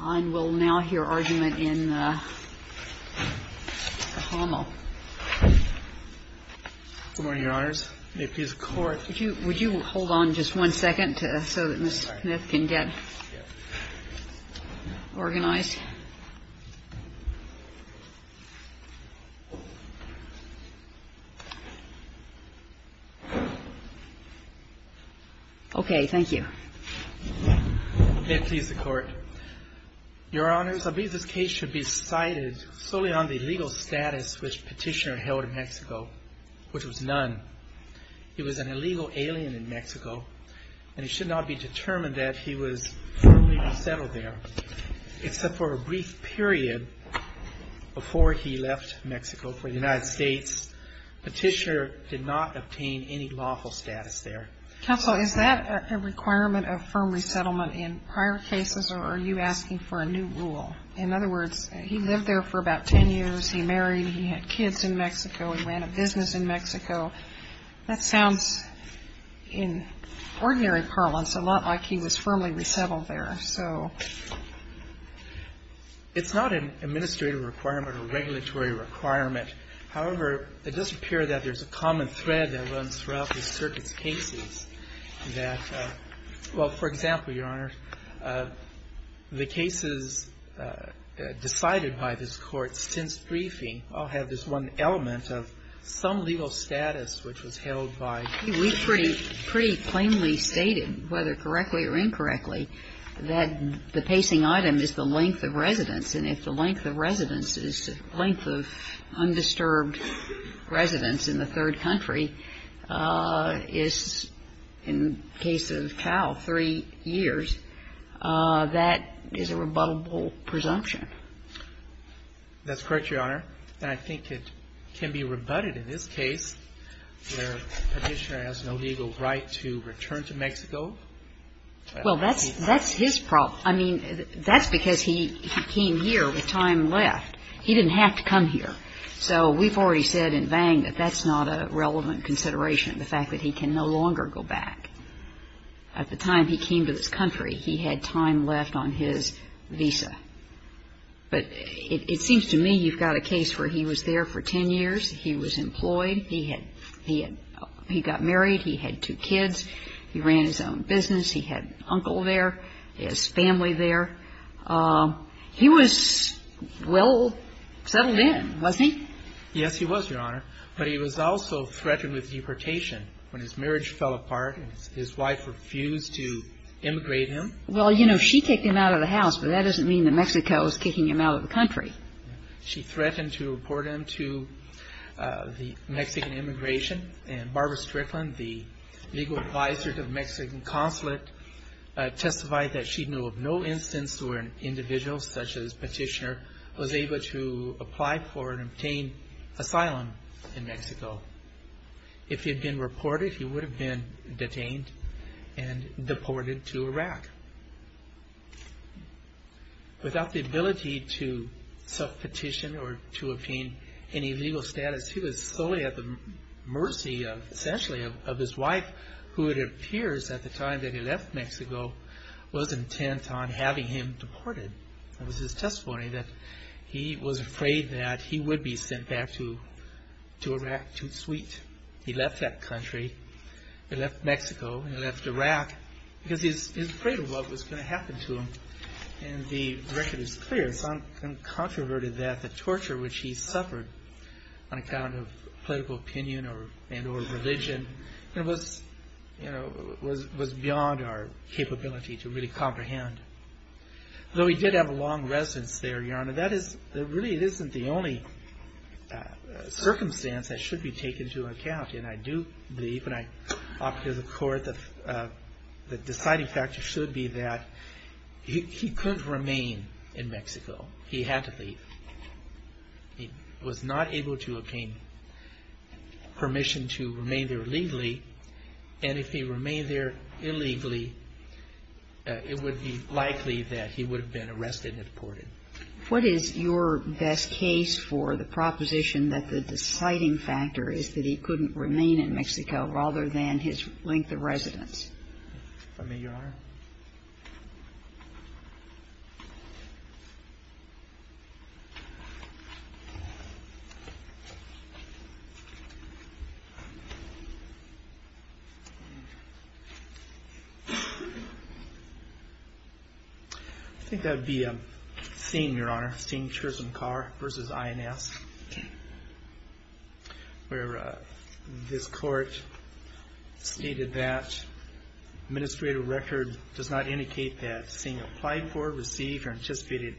I will now hear argument in the Khamo. Good morning, Your Honors. May it please the Court. Would you hold on just one second so that Ms. Smith can get organized? Okay. Thank you. May it please the Court. Your Honors, I believe this case should be cited solely on the legal status which Petitioner held in Mexico, which was none. He was an illegal alien in Mexico, and it should not be determined that he was formally resettled there, except for a brief period before he left Mexico for the United States. Petitioner did not obtain any lawful status there. Counsel, is that a requirement of firm resettlement in prior cases, or are you asking for a new rule? In other words, he lived there for about 10 years, he married, he had kids in Mexico, he ran a business in Mexico. That sounds in ordinary parlance a lot like he was firmly resettled there, so. It's not an administrative requirement or regulatory requirement. However, it does appear that there's a common thread that runs throughout the circuit's cases that, well, for example, Your Honors, the cases decided by this Court since briefing all have this one element of some legal status which was held by the court. We pretty plainly stated, whether correctly or incorrectly, that the pacing item is the length of residence. And if the length of residence is the length of undisturbed residence in the third country, is, in the case of Powell, three years, that is a rebuttable presumption. That's correct, Your Honor. And I think it can be rebutted in this case where Petitioner has no legal right to return to Mexico. Well, that's his problem. I mean, that's because he came here with time left. He didn't have to come here. So we've already said in Vang that that's not a relevant consideration, the fact that he can no longer go back. At the time he came to this country, he had time left on his visa. But it seems to me you've got a case where he was there for ten years, he was employed, he got married, he had two kids, he ran his own business, he had an uncle there, his family there. He was well settled in, wasn't he? Yes, he was, Your Honor. But he was also threatened with deportation when his marriage fell apart and his wife refused to immigrate him. Well, you know, she kicked him out of the house, but that doesn't mean that Mexico is kicking him out of the country. She threatened to deport him to the Mexican immigration, and Barbara Strickland, the legal advisor to the Mexican consulate, testified that she knew of no instance where an individual such as Petitioner was able to apply for and obtain asylum in Mexico. If he had been reported, he would have been detained and deported to Iraq. Without the ability to self-petition or to obtain any legal status, he was solely at the mercy, essentially, of his wife, who it appears at the time that he left Mexico was intent on having him deported. It was his testimony that he was afraid that he would be sent back to Iraq too sweet. He left that country, he left Mexico, he left Iraq, because he was afraid of what was going to happen to him. And the record is clear, it's uncontroverted that the torture which he suffered on account of political opinion and or religion was beyond our capability to really comprehend. Though he did have a long residence there, Your Honor, that really isn't the only circumstance that should be taken into account. And I do believe, and I offer to the court, that the deciding factor should be that he couldn't remain in Mexico. He had to leave. He was not able to obtain permission to remain there legally, and if he remained there illegally, it would be likely that he would have been arrested and deported. What is your best case for the proposition that the deciding factor is that he couldn't remain in Mexico rather than his length of residence? If I may, Your Honor. I think that would be a scene, Your Honor, a scene in Chisholm Carr v. INS, where this court stated that administrative record does not indicate that, seeing applied for, received, or anticipated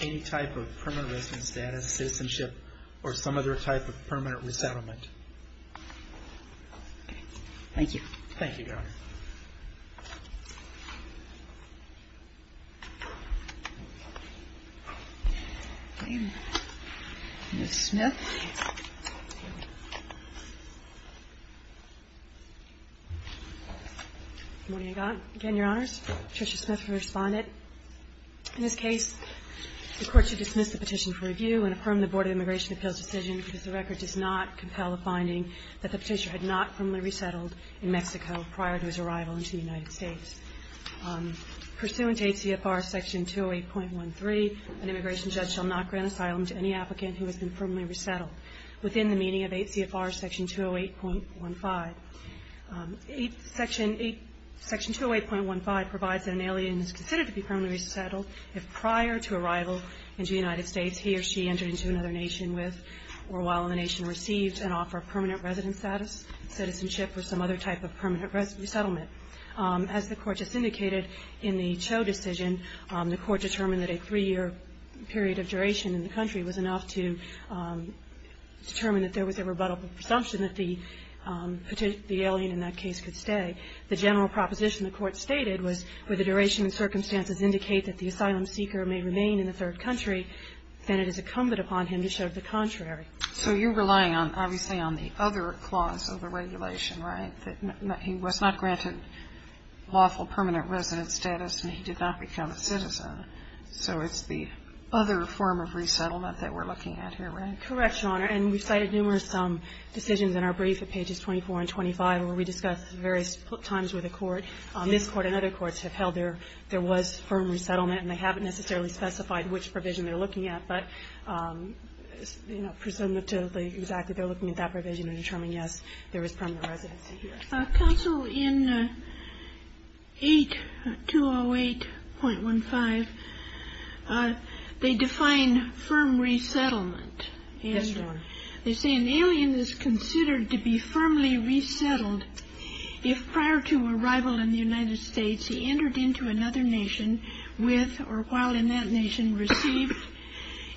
any type of permanent residence status, citizenship, or some other type of permanent resettlement. Thank you. Thank you, Your Honor. Ms. Smith. Good morning, Your Honor. Again, Your Honors. Patricia Smith for Respondent. In this case, the Court should dismiss the petition for review and affirm the Board of Immigration Appeals' decision that the record does not compel the finding that the petitioner had not formally resettled in Mexico prior to his arrival. Pursuant to ACFR Section 208.13, an immigration judge shall not grant asylum to any applicant who has been formally resettled, within the meaning of ACFR Section 208.15. Section 208.15 provides that an alien is considered to be permanently resettled if, prior to arrival into the United States, he or she entered into another nation with, or while in the nation received, an offer of permanent residence status, citizenship, or some other type of permanent resettlement. As the Court just indicated in the Cho decision, the Court determined that a three-year period of duration in the country was enough to determine that there was a rebuttable presumption that the alien in that case could stay. The general proposition the Court stated was, where the duration and circumstances indicate that the asylum seeker may remain in the third country, then it is incumbent upon him to show the contrary. So you're relying on, obviously, on the other clause of the regulation, right? That he was not granted lawful permanent residence status, and he did not become a citizen. So it's the other form of resettlement that we're looking at here, right? Correct, Your Honor. And we've cited numerous decisions in our brief at pages 24 and 25, where we discuss various times where the Court, this Court and other courts, have held there was firm resettlement, and they haven't necessarily specified which provision they're looking at. But, you know, presumptively, exactly, they're looking at that provision and determining, yes, there was permanent residency here. Counsel, in 808.15, they define firm resettlement. Yes, Your Honor. They say an alien is considered to be firmly resettled if, prior to arrival in the United States, he entered into another nation with or while in that nation received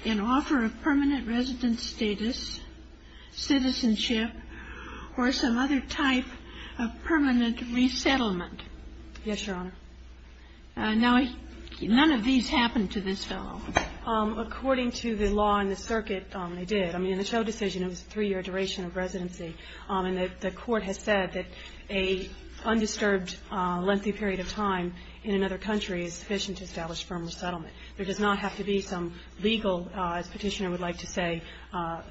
an offer of permanent residence status, citizenship, or some other type of permanent resettlement. Yes, Your Honor. Now, none of these happened to this fellow. According to the law and the circuit, they did. I mean, in the Cho decision, it was a three-year duration of residency. And the Court has said that a undisturbed, lengthy period of time in another country is sufficient to establish firm resettlement. There does not have to be some legal, as Petitioner would like to say,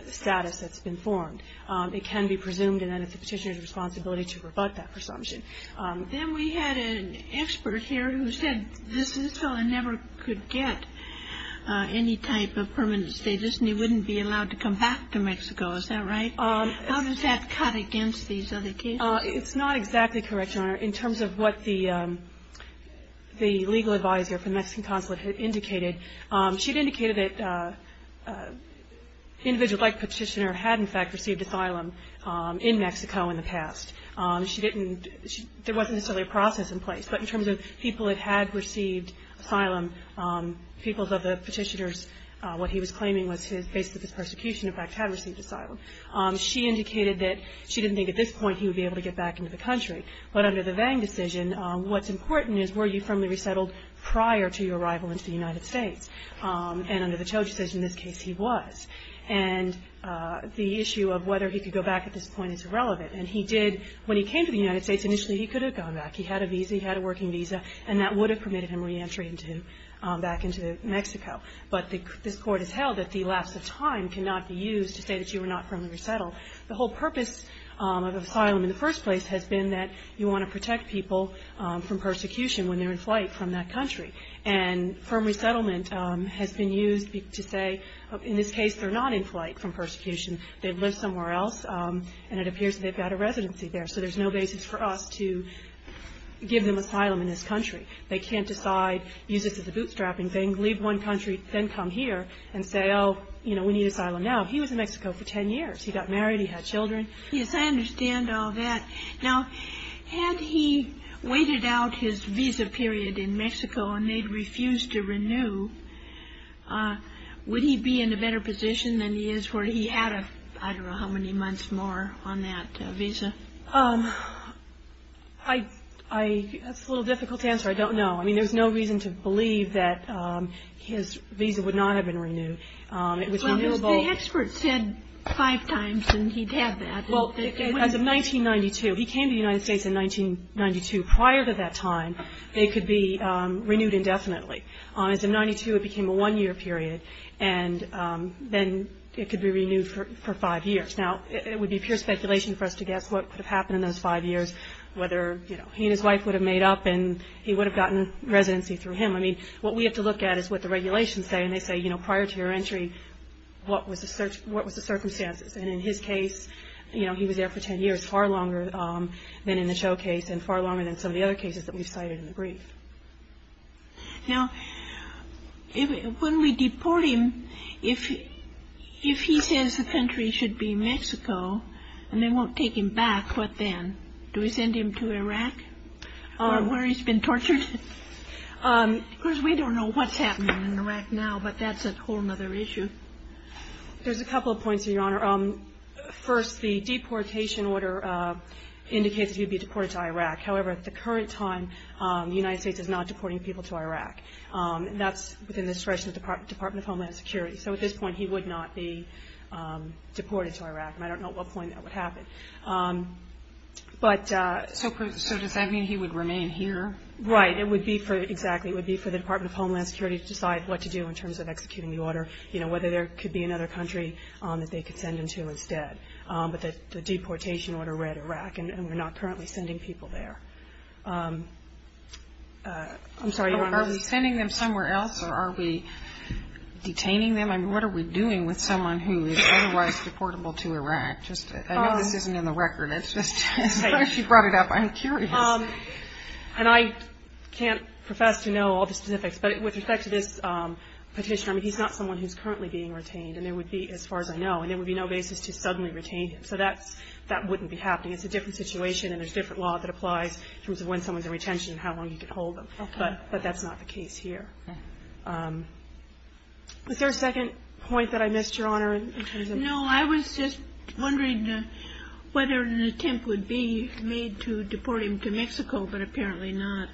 status that's been formed. It can be presumed, and then it's the Petitioner's responsibility to rebut that presumption. Then we had an expert here who said this fellow never could get any type of permanent status, and he wouldn't be allowed to come back to Mexico. Is that right? How does that cut against these other cases? It's not exactly correct, Your Honor. In terms of what the legal advisor for the Mexican consulate had indicated, she had indicated that individuals like Petitioner had, in fact, received asylum in Mexico in the past. She didn't – there wasn't necessarily a process in place. But in terms of people that had received asylum, people of the Petitioner's what he was claiming was his – basically his persecution, in fact, had received asylum. She indicated that she didn't think at this point he would be able to get back into the country. But under the Vang decision, what's important is were you firmly resettled prior to your arrival into the United States. And under the Cho decision, in this case, he was. And the issue of whether he could go back at this point is irrelevant. And he did – when he came to the United States, initially he could have gone back. He had a visa, he had a working visa, and that would have permitted him reentry back into Mexico. But this Court has held that the lapse of time cannot be used to say that you were not firmly resettled. The whole purpose of asylum in the first place has been that you want to protect people from persecution when they're in flight from that country. And firm resettlement has been used to say, in this case, they're not in flight from persecution. They live somewhere else, and it appears they've got a residency there. So there's no basis for us to give them asylum in this country. They can't decide, use this as a bootstrapping thing, leave one country, then come here and say, oh, you know, we need asylum now. He was in Mexico for 10 years. He got married. He had children. Yes, I understand all that. Now, had he waited out his visa period in Mexico and they'd refused to renew, would he be in a better position than he is where he had, I don't know how many months more on that visa? I – that's a little difficult to answer. I don't know. I mean, there's no reason to believe that his visa would not have been renewed. It was renewable. Well, the expert said five times, and he'd have that. Well, as of 1992, he came to the United States in 1992. Prior to that time, they could be renewed indefinitely. As of 1992, it became a one-year period, and then it could be renewed for five years. Now, it would be pure speculation for us to guess what could have happened in those five years, whether, you know, he and his wife would have made up and he would have gotten residency through him. I mean, what we have to look at is what the regulations say, and they say, you know, prior to your entry, what was the circumstances? And in his case, you know, he was there for 10 years, far longer than in the show case and far longer than some of the other cases that we've cited in the brief. Now, when we deport him, if he says the country should be Mexico and they won't take him back, what then? Do we send him to Iraq, where he's been tortured? Because we don't know what's happening in Iraq now, but that's a whole other issue. There's a couple of points, Your Honor. First, the deportation order indicates that he would be deported to Iraq. However, at the current time, the United States is not deporting people to Iraq. That's within the discretion of the Department of Homeland Security. So at this point, he would not be deported to Iraq, and I don't know at what point that would happen. So does that mean he would remain here? Right, exactly. It would be for the Department of Homeland Security to decide what to do in terms of executing the order, you know, whether there could be another country that they could send him to instead. But the deportation order read Iraq, and we're not currently sending people there. I'm sorry, Your Honor. Are we sending them somewhere else, or are we detaining them? I mean, what are we doing with someone who is otherwise deportable to Iraq? I know this isn't in the record. It's just as far as you brought it up, I'm curious. And I can't profess to know all the specifics. But with respect to this petition, I mean, he's not someone who's currently being retained, as far as I know, and there would be no basis to suddenly retain him. So that wouldn't be happening. It's a different situation, and there's different law that applies in terms of when someone's in retention and how long you can hold them. But that's not the case here. Was there a second point that I missed, Your Honor? No, I was just wondering whether an attempt would be made to deport him to Mexico, but apparently not.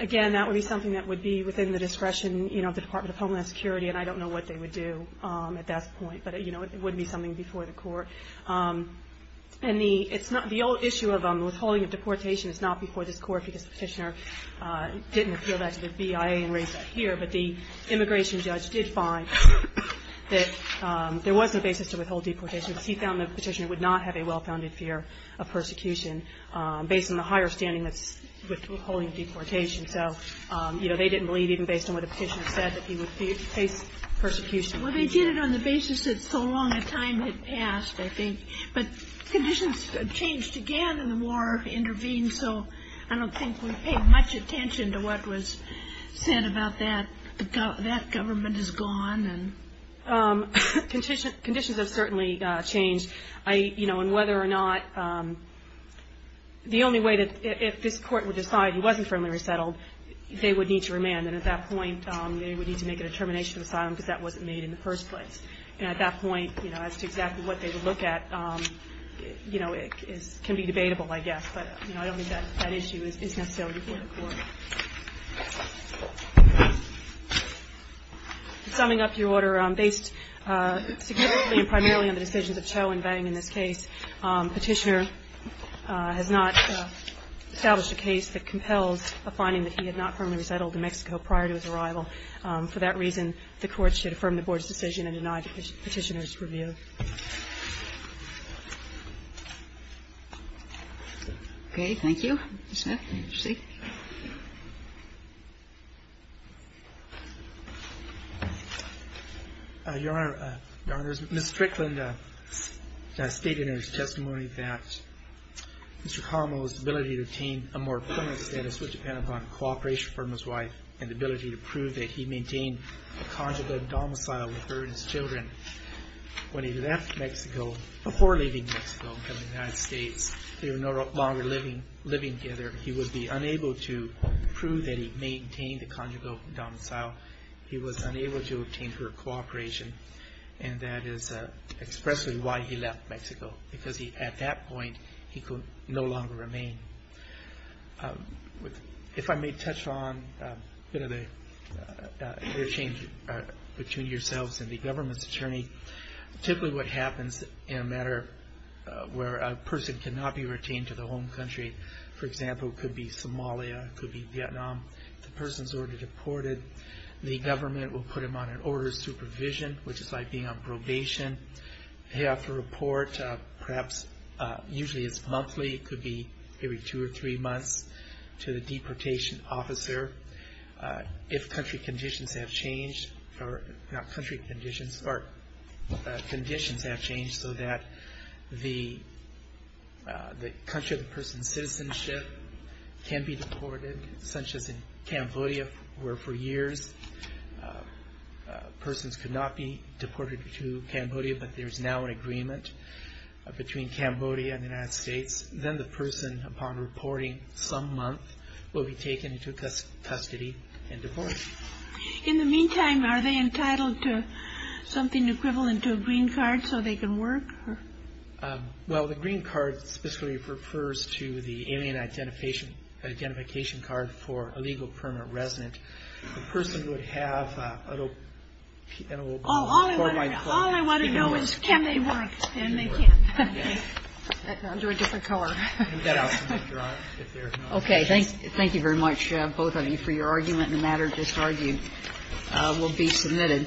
Again, that would be something that would be within the discretion, you know, of the Department of Homeland Security, and I don't know what they would do at that point. But, you know, it would be something before the Court. And the old issue of withholding of deportation is not before this Court because the petitioner didn't appeal that to the BIA and raise that here. But the immigration judge did find that there was a basis to withhold deportation because he found the petitioner would not have a well-founded fear of persecution based on the higher standing that's withholding deportation. So, you know, they didn't believe even based on what the petitioner said that he would face persecution. Well, they did it on the basis that so long a time had passed, I think. But conditions changed again and the war intervened, so I don't think we paid much attention to what was said about that. That government is gone. Conditions have certainly changed. You know, and whether or not the only way that if this Court would decide he wasn't firmly resettled, they would need to remand. And then at that point, they would need to make a determination of asylum because that wasn't made in the first place. And at that point, you know, as to exactly what they would look at, you know, it can be debatable, I guess. But, you know, I don't think that issue is necessary before the Court. Summing up your order, based significantly and primarily on the decisions of Cho and Vang in this case, petitioner has not established a case that compels a finding that he had not firmly resettled to Mexico prior to his arrival. For that reason, the Court should affirm the Board's decision and deny the petitioner's review. Okay. Thank you. Mr. Smith, your seat. Your Honor, Your Honors, Ms. Strickland stated in her testimony that Mr. Colombo's ability to attain a more profound cooperation from his wife and the ability to prove that he maintained a conjugal domicile with her and his children when he left Mexico, before leaving Mexico and coming to the United States. They were no longer living together. He would be unable to prove that he maintained a conjugal domicile. He was unable to attain her cooperation. And that is expressly why he left Mexico, because at that point he could no longer remain. If I may touch on a bit of the interchange between yourselves and the government's attorney, typically what happens in a matter where a person cannot be retained to their home country, for example, could be Somalia, could be Vietnam. The person is already deported. The government will put them on an order of supervision, which is like being on probation. They have to report, perhaps usually it's monthly, it could be every two or three months, to the deportation officer if country conditions have changed, or not country conditions, but conditions have changed, so that the country of the person's citizenship can be deported, such as in Cambodia, where for years persons could not be deported to Cambodia, but there is now an agreement between Cambodia and the United States. Then the person, upon reporting some month, will be taken into custody and deported. In the meantime, are they entitled to something equivalent to a green card so they can work? Well, the green card specifically refers to the alien identification card for a legal permanent resident. The person would have an open card. All I want to know is can they work, and they can, under a different car. That I'll submit, Your Honor, if there is no other questions. Okay. Thank you very much, both of you, for your argument. The matter just argued will be submitted. Thank you.